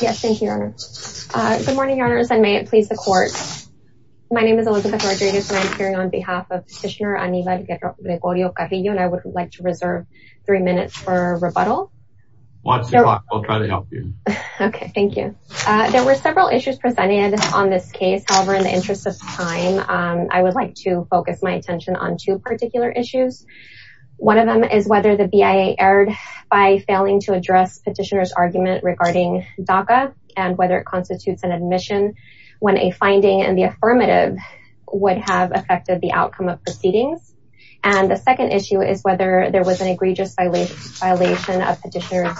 Yes, thank you, your honor. Good morning, your honors, and may it please the court. My name is Elizabeth Rodriguez and I'm appearing on behalf of Petitioner Anival Gregorio-Carrillo and I would like to reserve three minutes for rebuttal. Watch the clock, I'll try to help you. Okay, thank you. There were several issues presented on this case, however, in the interest of time, I would like to focus my attention on two particular issues. One of them is whether the BIA erred by failing to address petitioner's argument regarding DACA and whether it constitutes an admission when a finding in the affirmative would have affected the outcome of proceedings. And the second issue is whether there was an egregious violation of petitioner's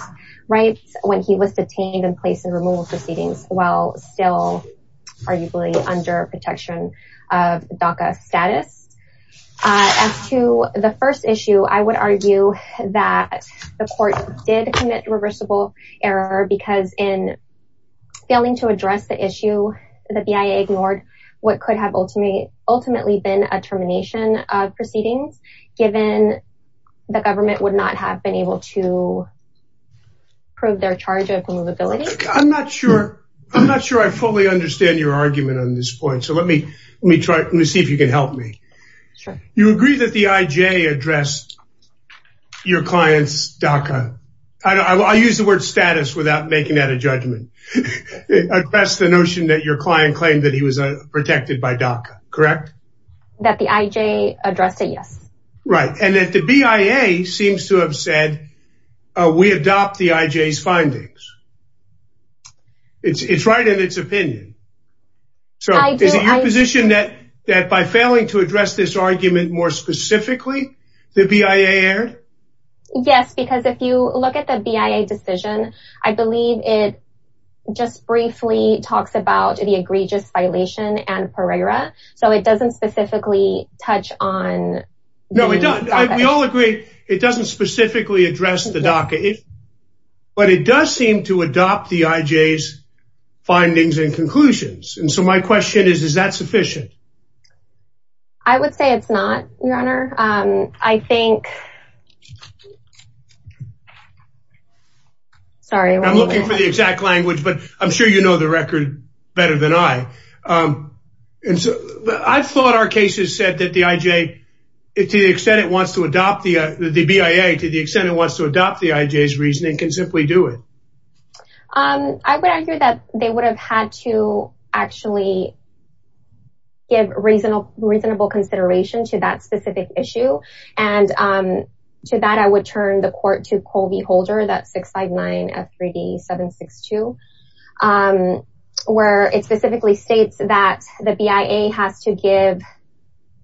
rights when he was detained and placed in removal proceedings while still arguably under protection of DACA status. As to the first issue, I would argue that the court did commit reversible error because in failing to address the issue, the BIA ignored what could have ultimately been a termination of proceedings given the government would not have been able to prove their charge of removability. I'm not sure I fully understand your argument on this point, so let me see if you can help me. You agree that the IJ addressed your client's DACA, I'll use the word status without making that a judgment, addressed the notion that your client claimed that he was protected by DACA, correct? That the IJ addressed it, yes. Right, and that the BIA seems to have said, we adopt the IJ's findings. It's right in its opinion. So is it your position that by failing to address this argument more specifically, the BIA erred? Yes, because if you look at the BIA decision, I believe it just briefly talks about the egregious violation and Pereira, so it doesn't specifically touch on... No, it doesn't. It doesn't specifically address the DACA, but it does seem to adopt the IJ's findings and conclusions, and so my question is, is that sufficient? I would say it's not, your honor. I think... Sorry, I'm looking for the exact language, but I'm sure you know the record better than I. I thought our cases said that the IJ, to the extent it wants to adopt the BIA, to the extent it wants to adopt the IJ's reasoning, can simply do it. I would argue that they would have had to actually give reasonable consideration to that specific issue, and to that I would turn the the BIA has to give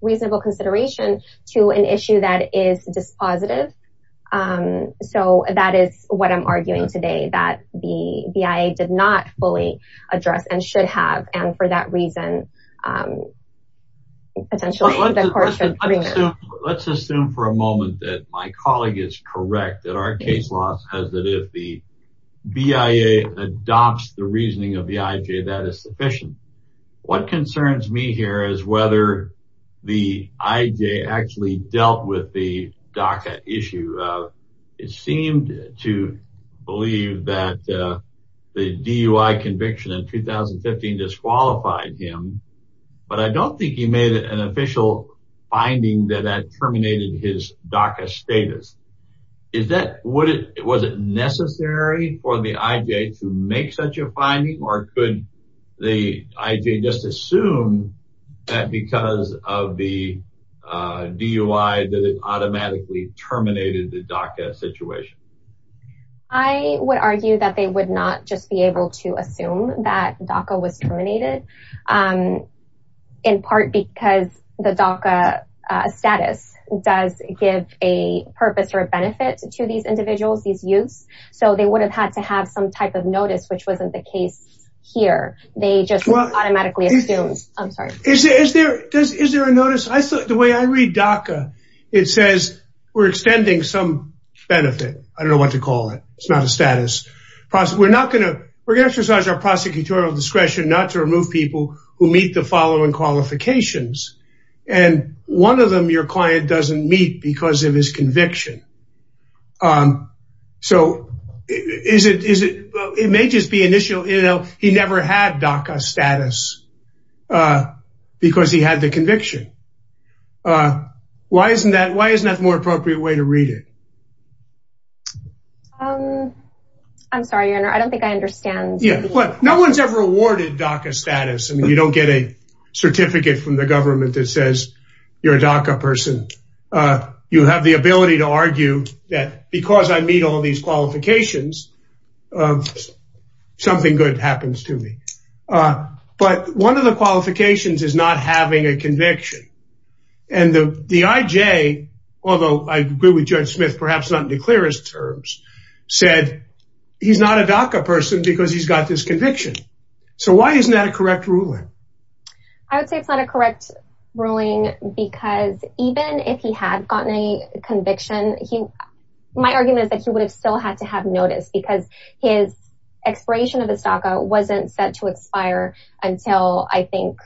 reasonable consideration to an issue that is dispositive. So that is what I'm arguing today, that the BIA did not fully address and should have, and for that reason, potentially... Let's assume for a moment that my colleague is correct, that our case law says that if the BIA adopts the reasoning of the IJ, that is sufficient. What concerns me here is whether the IJ actually dealt with the DACA issue. It seemed to believe that the DUI conviction in 2015 disqualified him, but I don't think he made an official finding that that terminated his DUI. Was it necessary for the IJ to make such a finding, or could the IJ just assume that because of the DUI that it automatically terminated the DACA situation? I would argue that they would not just be able to assume that DACA was terminated, in part because the DACA status does give a purpose or a benefit to these individuals, these youths, so they would have had to have some type of notice which wasn't the case here. They just automatically assumed. I'm sorry. Is there a notice? The way I read DACA, it says we're extending some benefit. I don't know what to call it. It's not a status. We're not going to exercise our prosecutorial discretion not to remove people who meet the following qualifications, and one of them your client doesn't meet because of his conviction. So it may just be initial, you know, he never had DACA status because he had the conviction. Why isn't that more appropriate way to read it? I'm sorry, your honor. I don't think I understand. No one's ever awarded DACA status. I mean, you don't get a certificate from the government that says you're a DACA person. You have the ability to argue that because I meet all these qualifications, something good happens to me. But one of the qualifications is not having a conviction, and the IJ, although I agree with Judge Smith, perhaps not in the clearest terms, said he's not a DACA person because he's got this conviction. So why isn't that a correct ruling? I would say it's not a correct ruling because even if he had gotten a conviction, my argument is that he would have still had to have notice because his expiration of his DACA wasn't set to expire until I think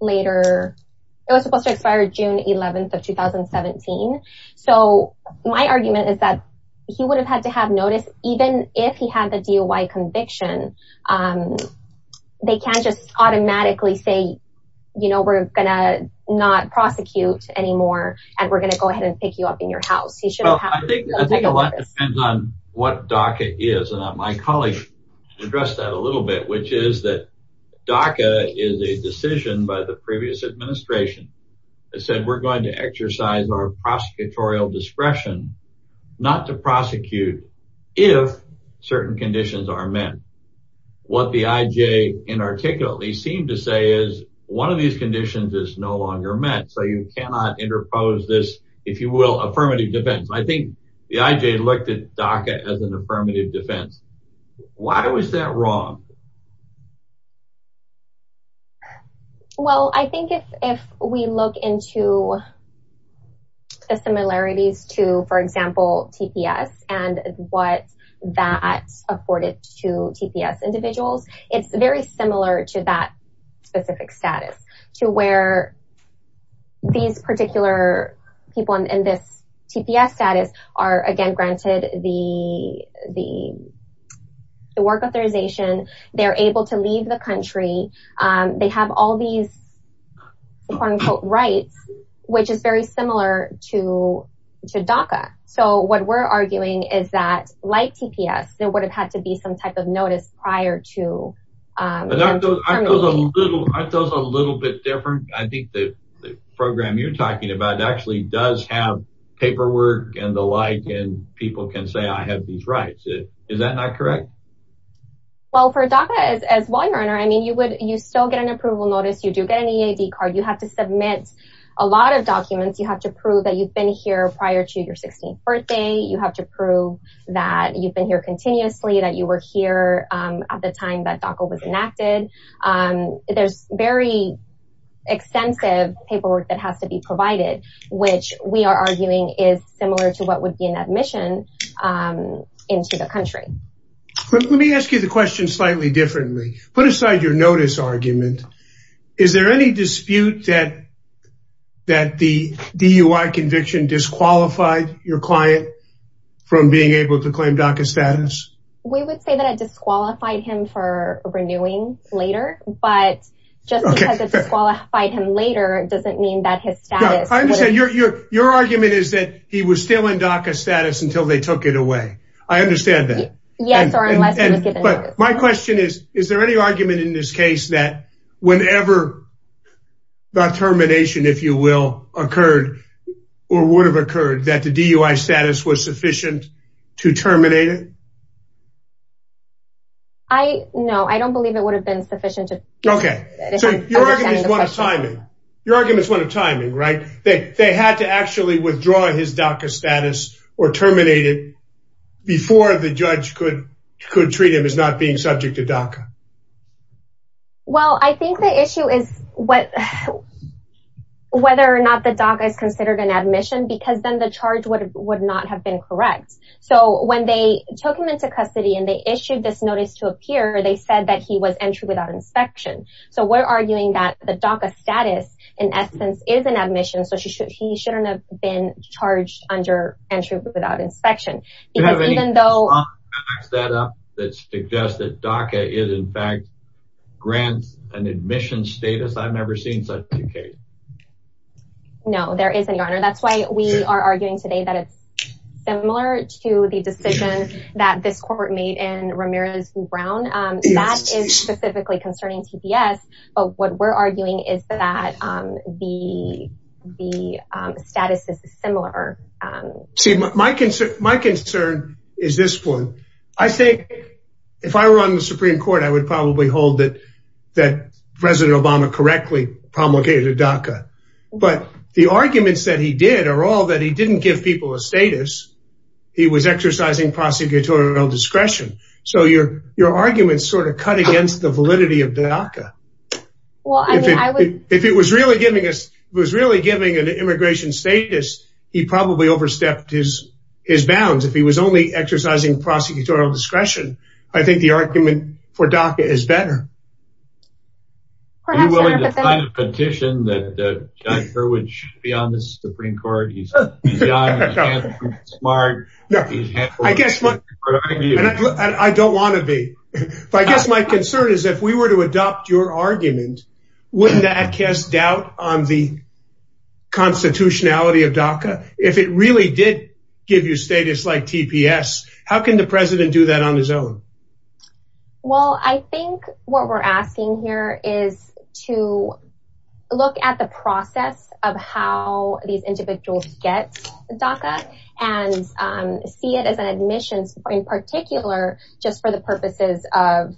later. It was supposed to expire June 11th of 2017. So my argument is that he would have had to have notice even if he had a DUI conviction. They can't just automatically say, you know, we're going to not prosecute anymore, and we're going to go ahead and pick you up in your house. I think a lot depends on what DACA is, and my colleague addressed that a little bit, which is that DACA is a decision by the previous administration that said we're going to exercise our prosecutorial discretion not to prosecute if certain conditions are met. What the IJ inarticulately seemed to say is one of these conditions is no longer met, so you cannot interpose this, if you will, affirmative defense. I think the IJ looked at DACA as an affirmative defense. Why was that wrong? Well, I think if we look into the similarities to, for example, TPS and what that's afforded to TPS individuals, it's very similar to that specific status, to where these particular people in this TPS status are, again, granted the work authorization, they're able to leave the country, they have all these quote-unquote rights, which is very similar to DACA. So what we're arguing is that, like TPS, there would have had to be some type of notice prior to that. Aren't those a little bit different? I think the program you're talking about actually does have paperwork and the like, and people can say I have these rights. Is that not correct? Well, for DACA, as a lawyer, I mean, you still get an approval notice, you do get an EAD card, you have to submit a lot of documents, you have to prove that you've been here prior to your 16th birthday, you have to prove that you've been here continuously, that you were here at the time that DACA was enacted. There's very extensive paperwork that has to be provided, which we are arguing is similar to what would be an admission into the country. Let me ask you the question slightly differently. Put aside your notice argument. Is there any dispute that the DUI conviction disqualified your client from being able to renew later? Your argument is that he was still in DACA status until they took it away. I understand that. My question is, is there any argument in this case that whenever the termination, if you will, occurred, or would have occurred, that the DUI status was sufficient to terminate it? No, I don't believe it would have been sufficient. Your argument is one of timing, right? They had to actually withdraw his DACA status or terminate it before the judge could treat him as not being subject to DACA. Well, I think the issue is whether or not the DACA is considered an admission, because then the charge would not have been correct. So, when they took him into custody and they issued this notice to appear, they said that he was entry without inspection. So, we're arguing that the DACA status, in essence, is an admission, so he shouldn't have been charged under entry without inspection. Do you have any data that suggests that DACA is, in fact, grants an admission status? I've never seen such a case. No, there isn't, Your Honor. That's why we are arguing today that it's similar to the decision that this court made in Ramirez v. Brown. That is specifically concerning TPS, but what we're arguing is that the status is similar. See, my concern is this one. I think, if I were on the Supreme Court, I would probably hold that President Obama correctly promulgated DACA, but the arguments that he did are all that he didn't give people a status. He was exercising prosecutorial discretion. So, your argument sort of cut against the validity of DACA. If he was really giving an immigration status, he probably overstepped his bounds. If he was only exercising prosecutorial discretion, I think the argument for DACA is better. Are you willing to sign a petition that John Kerwin should be on the Supreme Court? He's young, he's handsome, he's smart. I don't want to be, but I guess my concern is, if we were to adopt your argument, wouldn't that cast doubt on the constitutionality of DACA? If it really did give you status like TPS, how can the President do that on his own? Well, I think what we're asking here is to look at the process of how these individuals get DACA and see it as an admission, in particular, just for the purposes of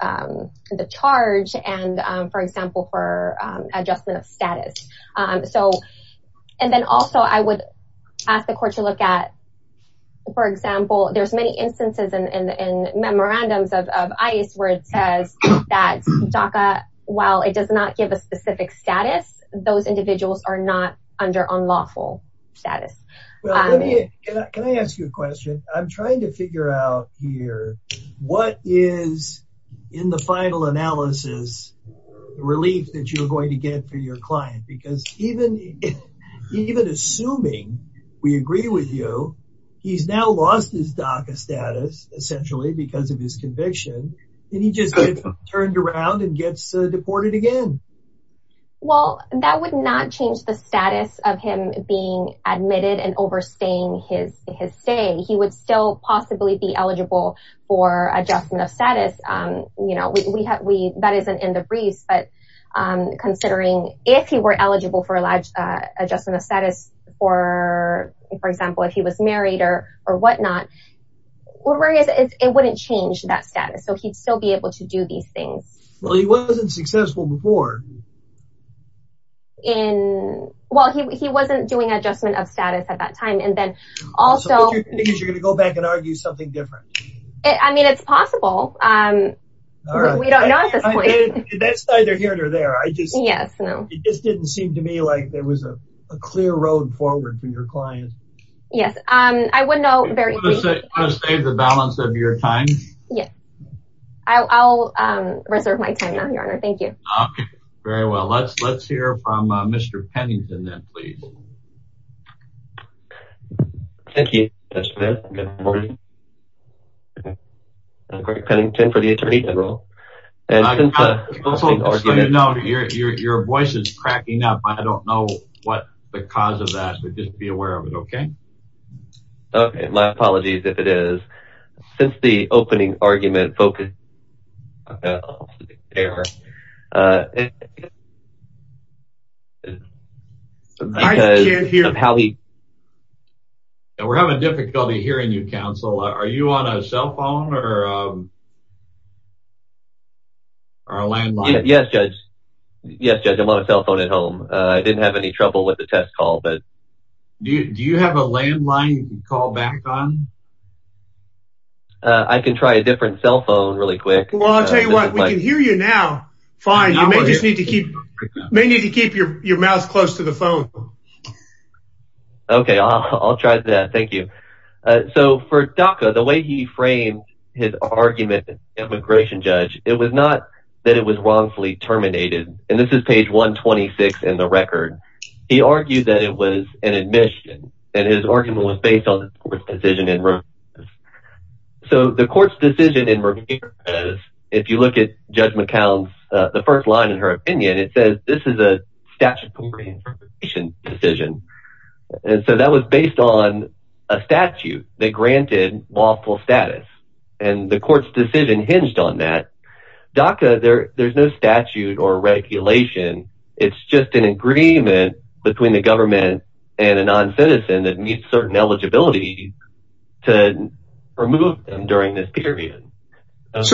the charge and, for example, for adjustment of status. Also, I would ask the court to look at, for example, there's many instances in memorandums of ICE where it says that DACA, while it does not give a specific status, those individuals are not under unlawful status. Can I ask you a question? I'm trying to figure out here, what is in the final analysis relief that you're going to get for your client? Because even assuming we agree with you, he's now lost his DACA status, essentially, because of his conviction, and he just gets turned around and gets deported again. Well, that would not change the status of him being admitted and overstaying his stay. He would still possibly be eligible for adjustment of status. That isn't in the briefs, but considering if he were eligible for adjustment of status, for example, if he was married or whatnot, it wouldn't change that status. So, he'd still be able to do these things. Well, he wasn't successful before. Well, he wasn't doing adjustment of status at that time. So, what you're saying is you're going to go back and argue something different? I mean, it's possible. We don't know at this point. That's either here or there. It just didn't seem to me like there was a clear road forward for your client. Yes. I would know very quickly. Do you want to save the balance of your time? Yes. I'll reserve my time now, Your Honor. Thank you. Okay. Very well. Let's hear from Mr. Pennington, then, please. Thank you, Mr. Mayor. Good morning. I'm Greg Pennington for the Attorney General. Your voice is cracking up. I don't know what the cause of that, but just be aware of it, okay? Okay. My apologies if it is. Since the opening argument focused... I can't hear. We're having difficulty hearing you, counsel. Are you on a cell phone or a landline? Yes, Judge. Yes, Judge. I'm on a cell phone at home. I didn't have any trouble with the test call. Do you have a landline you can call back on? I can try a different cell phone really quick. Well, I'll tell you what. We can hear you now. Fine. You may just need to keep your mouth close to the phone. Okay. I'll try that. Thank you. So, for DACA, the way he framed his argument as an immigration judge, it was not that it was wrongfully terminated. And this is page 126 in the record. He argued that it was an admission, and his argument was based on the court's decision. And so, the court's decision, if you look at Judge McCown's, the first line in her opinion, it says this is a statute of immigration decision. And so, that was based on a statute that granted lawful status. And the court's decision hinged on that. DACA, there's no statute or regulation. It's just an agreement between the government and a non-citizen that meets certain eligibility to remove them during this period. Let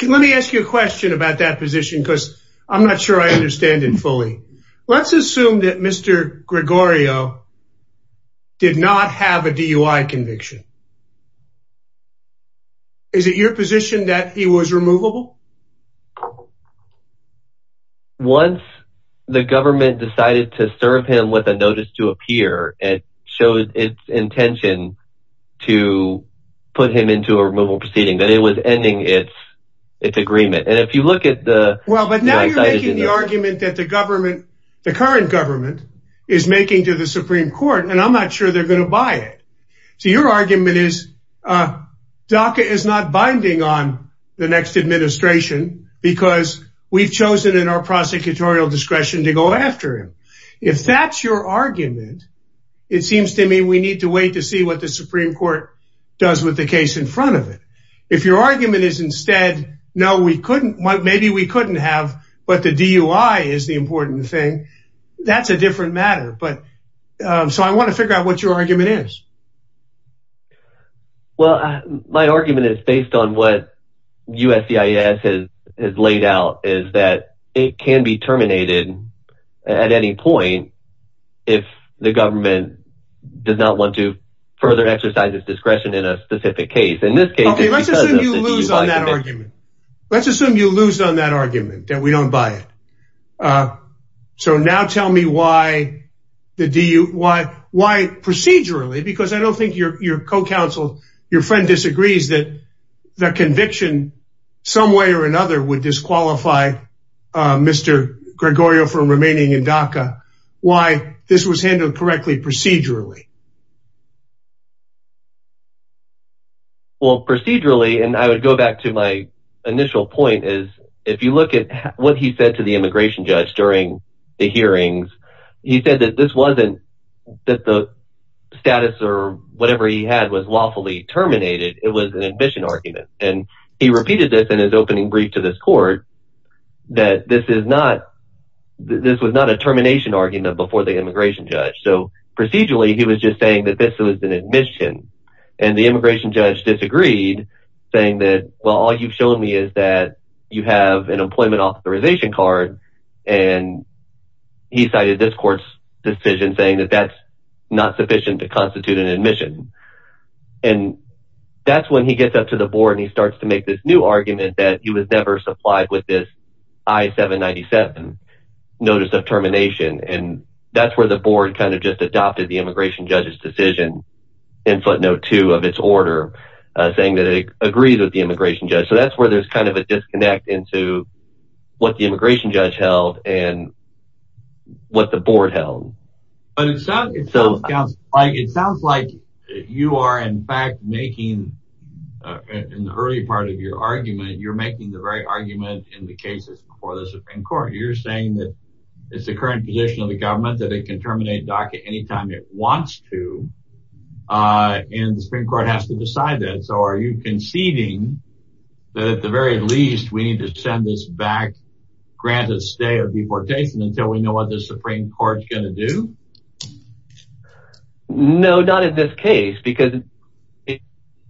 me ask you a question about that position, because I'm not sure I understand it fully. Let's assume that Mr. Gregorio did not have a DUI conviction. Is it your position that he was removable? Once the government decided to serve him with a notice to appear, it showed its intention to put him into a removal proceeding, that it was ending its agreement. And if you look at the- Well, but now you're making the argument that the government, the current government, is making to the Supreme Court, and I'm not sure they're going to buy it. So, your argument is, DACA is not binding on the next administration, because we've chosen in our prosecutorial discretion to go after him. If that's your argument, it seems to me we need to wait to see what the Supreme Court does with the case in front of it. If your argument is instead, no, we couldn't, maybe we couldn't have, but the DUI is the important thing, that's a different matter. So, I want to figure out what your argument is. Well, my argument is based on what USCIS has laid out, is that it can be terminated at any point if the government does not want to further exercise its discretion in a specific case. Okay, let's assume you lose on that argument, that we don't buy it. Okay, so now tell me why procedurally, because I don't think your co-counsel, your friend disagrees that the conviction some way or another would disqualify Mr. Gregorio from remaining in DACA, why this was handled correctly procedurally. Well, procedurally, and I would go back to my initial point, is if you look at what he said to the immigration judge during the hearings, he said that this wasn't that the status or whatever he had was lawfully terminated, it was an admission argument. And he repeated this in his opening brief to this court, that this was not a termination argument before the immigration judge. So, procedurally, he was just saying that this was an admission and the immigration judge disagreed, saying that, well, all you've shown me is that you have an employment authorization card. And he cited this court's decision saying that that's not sufficient to constitute an admission. And that's when he gets up to the board and he starts to make this new argument that he was never supplied with this I-797 notice of termination. And that's where the board kind the immigration judge's decision in footnote two of its order, saying that it agrees with the immigration judge. So, that's where there's kind of a disconnect into what the immigration judge held and what the board held. But it sounds like you are, in fact, making, in the early part of your argument, you're making the right argument in the cases before the Supreme Court. You're saying that it's the current position of the government that it can terminate DACA anytime it wants to. And the Supreme Court has to decide that. So, are you conceding that, at the very least, we need to send this back, grant a stay of deportation until we know what the Supreme Court's going to do? No, not in this case, because it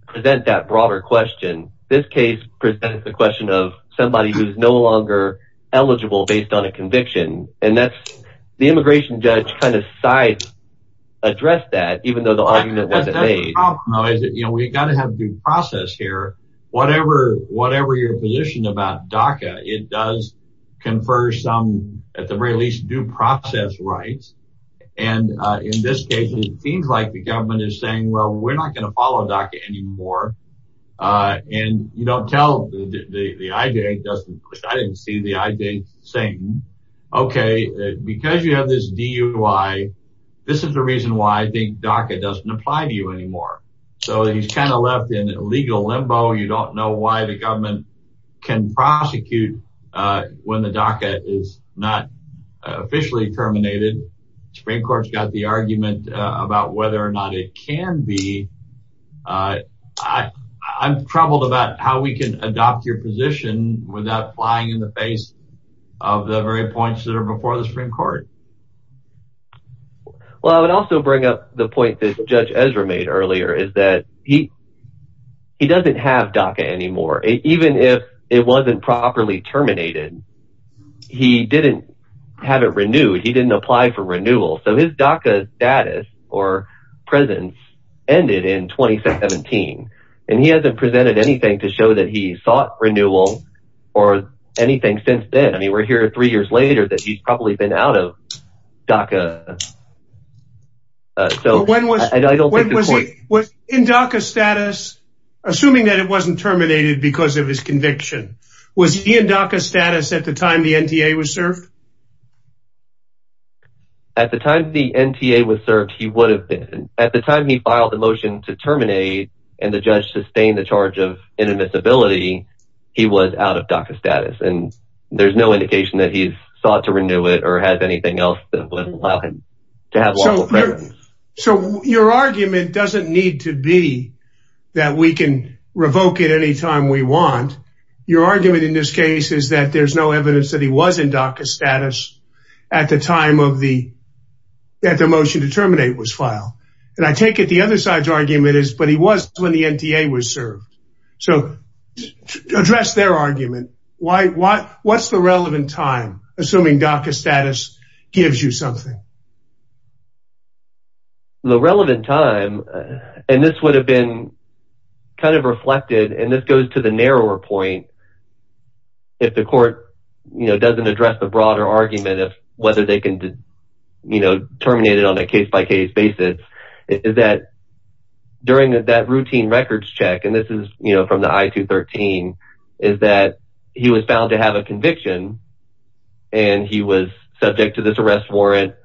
presents that broader question. This case presents the question of somebody who's no longer eligible based on a conviction. And that's the immigration judge kind of side addressed that, even though the argument wasn't made. We've got to have due process here. Whatever your position about DACA, it does confer some, at the very least, due process rights. And in this case, it seems like the government is saying, we're not going to follow DACA anymore. And you don't tell the IDA. I didn't see the IDA saying, okay, because you have this DUI, this is the reason why I think DACA doesn't apply to you anymore. So, he's kind of left in a legal limbo. You don't know why the government can prosecute when the DACA is not officially terminated. The Supreme Court's got the argument about whether or not it can be. I'm troubled about how we can adopt your position without flying in the face of the very points that are before the Supreme Court. Well, I would also bring up the point that Judge Ezra made earlier, is that he doesn't have DACA anymore. Even if it wasn't properly terminated, he didn't have it renewed. He didn't apply for renewal. So, his DACA status or presence ended in 2017. And he hasn't presented anything to show that he sought renewal or anything since then. I mean, we're here three years later that he's probably been out of DACA. So, when was he in DACA status, assuming that it wasn't terminated because of his conviction, was he in DACA status at the time the NTA was served? At the time the NTA was served, he would have been. At the time he filed the motion to terminate and the judge sustained the charge of inadmissibility, he was out of DACA status. And there's no indication that he's sought to renew it or has anything else that would allow him to have lawful presence. So, your argument doesn't need to be that we can revoke it anytime we want. Your argument in this case is that there's no evidence that he was in DACA status at the time that the motion to terminate was filed. And I take it the other side's argument is, but he was when the NTA was served. So, address their argument. What's the relevant time, assuming DACA status gives you something? The relevant time, and this would have been kind of reflected, and this goes to the narrower point, if the court doesn't address the broader argument of whether they can terminate it on a case-by-case basis, is that during that routine records check, and this is from the I-213, is that he was found to have a conviction, and he was subject to this arrest warrant,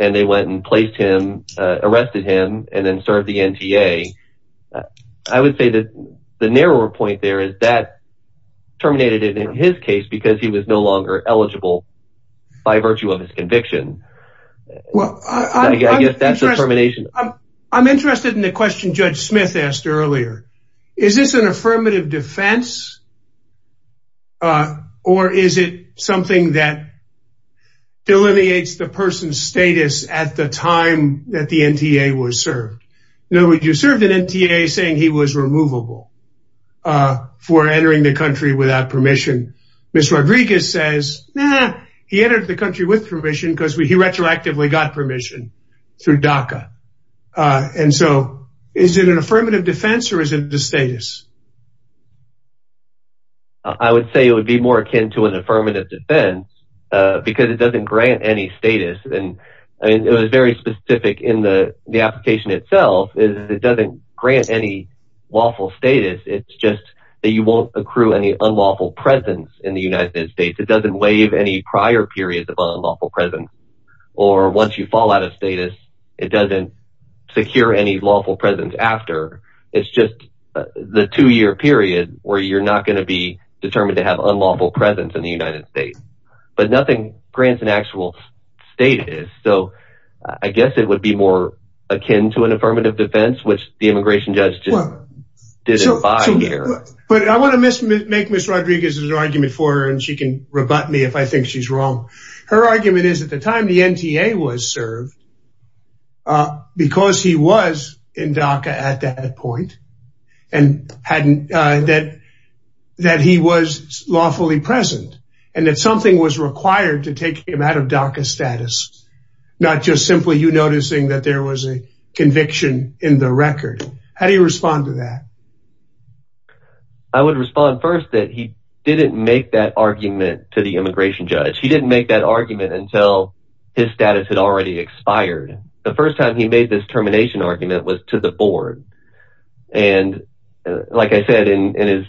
and they went and placed him, arrested him, and then served the NTA. I would say that the narrower point there is that terminated it in his case because he was no longer eligible by virtue of his conviction. Well, I'm interested in the question Judge Smith asked earlier. Is this an affirmative defense? Or is it something that delineates the person's status at the time that the NTA was served? In other words, you served an NTA saying he was removable for entering the country without permission. Ms. Rodriguez says, nah, he entered the country with permission because he retroactively got permission through DACA. And so, is it an affirmative defense or is it the status? I would say it would be more akin to an affirmative defense because it doesn't grant any status. And it was very specific in the application itself. It doesn't grant any lawful status. It's just that you won't accrue any unlawful presence in the United States. It doesn't waive any prior periods of unlawful presence. Or once you fall out of status, it doesn't secure any lawful presence after. It's just the terminated person period where you're not going to be determined to have unlawful presence in the United States. But nothing grants an actual status. So, I guess it would be more akin to an affirmative defense, which the immigration judge just didn't buy here. But I want to make Ms. Rodriguez's argument for her and she can rebut me if I think she's wrong. Her argument is at the time the NTA was served, uh, because he was in DACA at that point and hadn't, uh, that, that he was lawfully present and that something was required to take him out of DACA status. Not just simply you noticing that there was a conviction in the record. How do you respond to that? I would respond first that he didn't make that argument to the immigration judge. He didn't make that argument until his status had already expired. The first time he made this termination argument was to the board. And like I said, in his,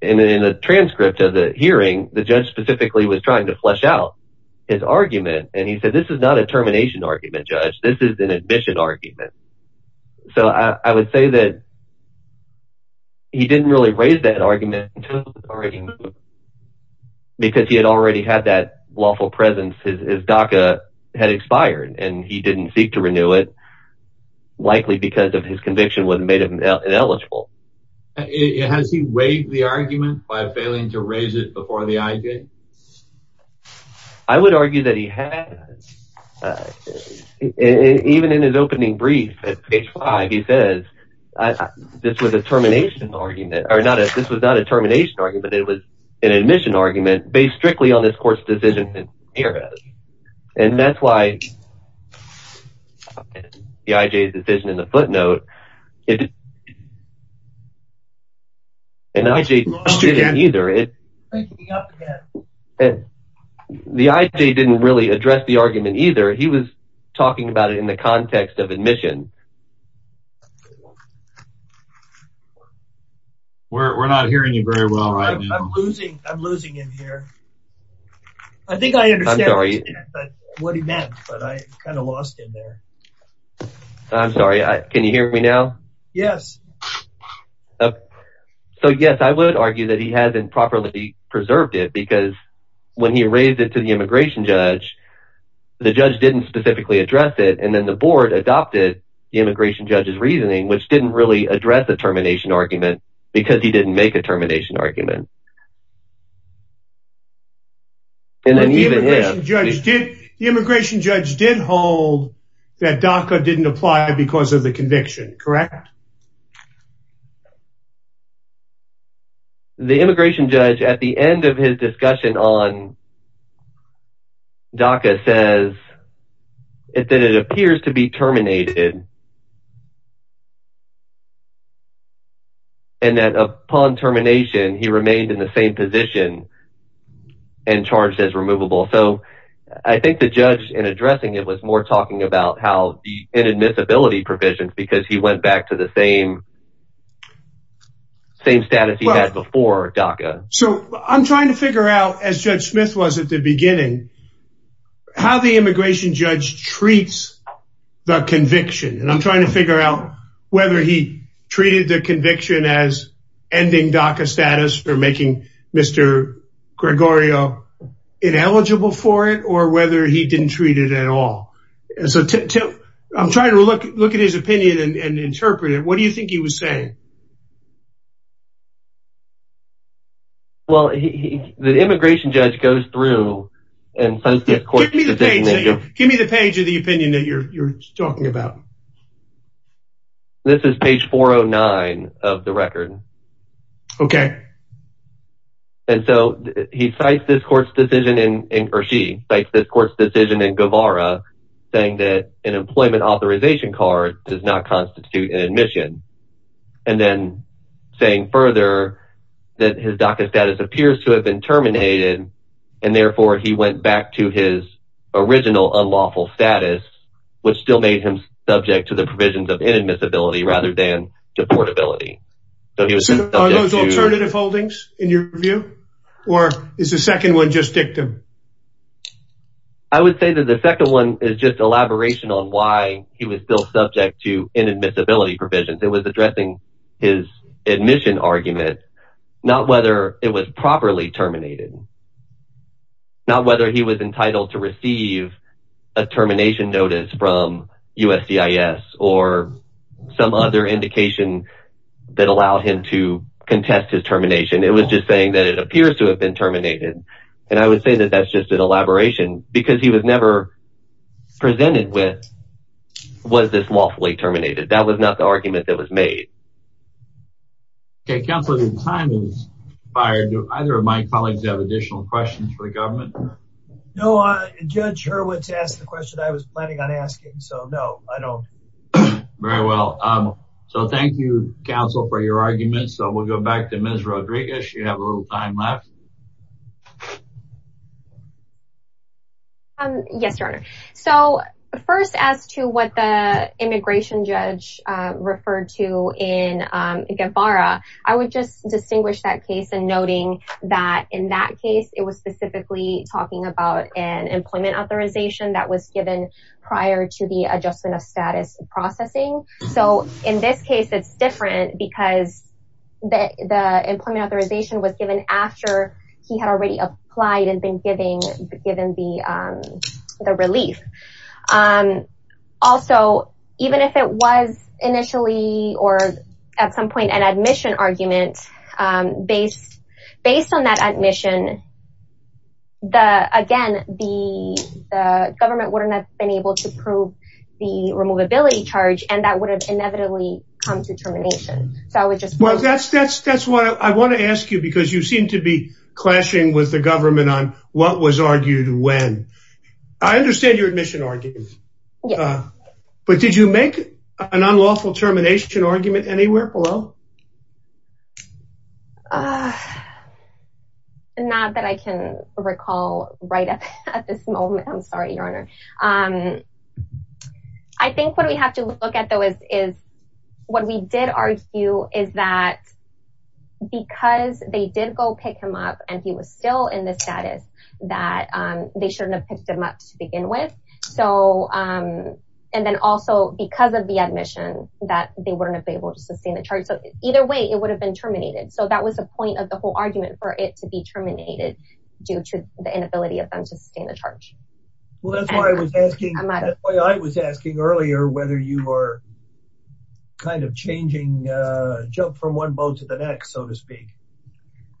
in the transcript of the hearing, the judge specifically was trying to flesh out his argument. And he said, this is not a termination argument, judge. This is an admission argument. So, I would say that he didn't really raise that argument until it was already moved. Because he had already had that lawful presence, his DACA had expired and he didn't seek to renew it, likely because of his conviction would have made him ineligible. Has he weighed the argument by failing to raise it before the IJ? I would argue that he has. Even in his opening brief at page five, he says, this was a termination argument, or not, this was not a termination argument. It was an admission argument based strictly on this court's decision. And that's why the IJ's decision in the footnote, and the IJ didn't really address the argument either. He was talking about it in the context of admission. We're not hearing you very well right now. I'm losing him here. I think I understand what he meant, but I kind of lost him there. I'm sorry. Can you hear me now? Yes. So yes, I would argue that he hasn't properly preserved it because when he raised it to the IJ, he adopted the IJ's reasoning, which didn't really address the termination argument because he didn't make a termination argument. The IJ did hold that DACA didn't apply because of the conviction, correct? Correct. The immigration judge at the end of his discussion on DACA says that it appears to be terminated. And that upon termination, he remained in the same position and charged as removable. So I think the judge in addressing it was more talking about how inadmissibility provisions because he went back to the same status he had before DACA. So I'm trying to figure out, as Judge Smith was at the beginning, how the immigration judge treats the conviction. And I'm trying to figure out whether he treated the conviction as ending DACA status for making Mr. Gregorio ineligible for it or whether he I'm trying to look at his opinion and interpret it. What do you think he was saying? Well, the immigration judge goes through and sends this court's decision. Give me the page of the opinion that you're talking about. This is page 409 of the record. Okay. And so he cites this court's decision in, or she cites this court's decision in Guevara saying that an employment authorization card does not constitute an admission. And then saying further that his DACA status appears to have been terminated. And therefore, he went back to his original unlawful status, which still made him subject to the provisions of inadmissibility rather than deportability. So he was subject to- Are those alternative holdings in your view? Or is the second one just dictum? I would say that the second one is just elaboration on why he was still subject to inadmissibility provisions. It was addressing his admission argument, not whether it was properly terminated, not whether he was entitled to receive a termination notice from USDIS or some other indication that allowed him to contest his termination. It was just saying that it appears to have been terminated. And I would say that that's just an elaboration because he was never presented with, was this lawfully terminated? That was not the argument that was made. Okay. Counselor, your time is expired. Do either of my colleagues have additional questions for the government? No, Judge Hurwitz asked the question I was planning on asking. So no, I don't. Very well. So thank you, counsel, for your argument. So we'll go back to Ms. Rodriguez. You have a little time left. Yes, Your Honor. So first as to what the immigration judge referred to in Guevara, I would just distinguish that case and noting that in that case, it was specifically talking about an employment authorization that was given prior to the adjustment of status processing. So in this case, it's different because the employment authorization was given after he had already applied and been given the relief. Also, even if it was initially or at some point an admission argument, based on that admission, again, the government would not have been able to prove the removability charge and that would have inevitably come to termination. So I would just... Well, that's why I want to ask you because you seem to be clashing with the government on what was argued when. I understand your admission argument. But did you make an unlawful termination argument anywhere below? No. Not that I can recall right at this moment. I'm sorry, Your Honor. I think what we have to look at though is what we did argue is that because they did go pick him up and he was still in the status that they shouldn't have picked him up to begin with. And then also because of the admission that they wouldn't have been able to sustain the charge. Either way, it would have been terminated. So that was the point of the whole argument for it to be terminated due to the inability of them to sustain the charge. Well, that's why I was asking earlier whether you were kind of changing jump from one boat to the next, so to speak.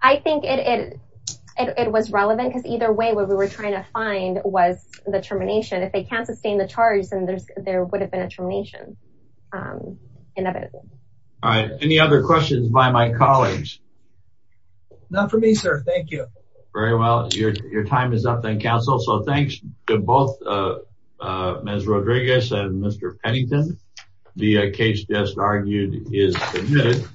I think it was relevant because either way, what we were trying to find was the termination. If they can't sustain the charge, then there All right. Any other questions by my colleagues? Not for me, sir. Thank you. Very well. Your time is up then, counsel. So thanks to both Ms. Rodriguez and Mr. Pennington. The case just argued is admitted.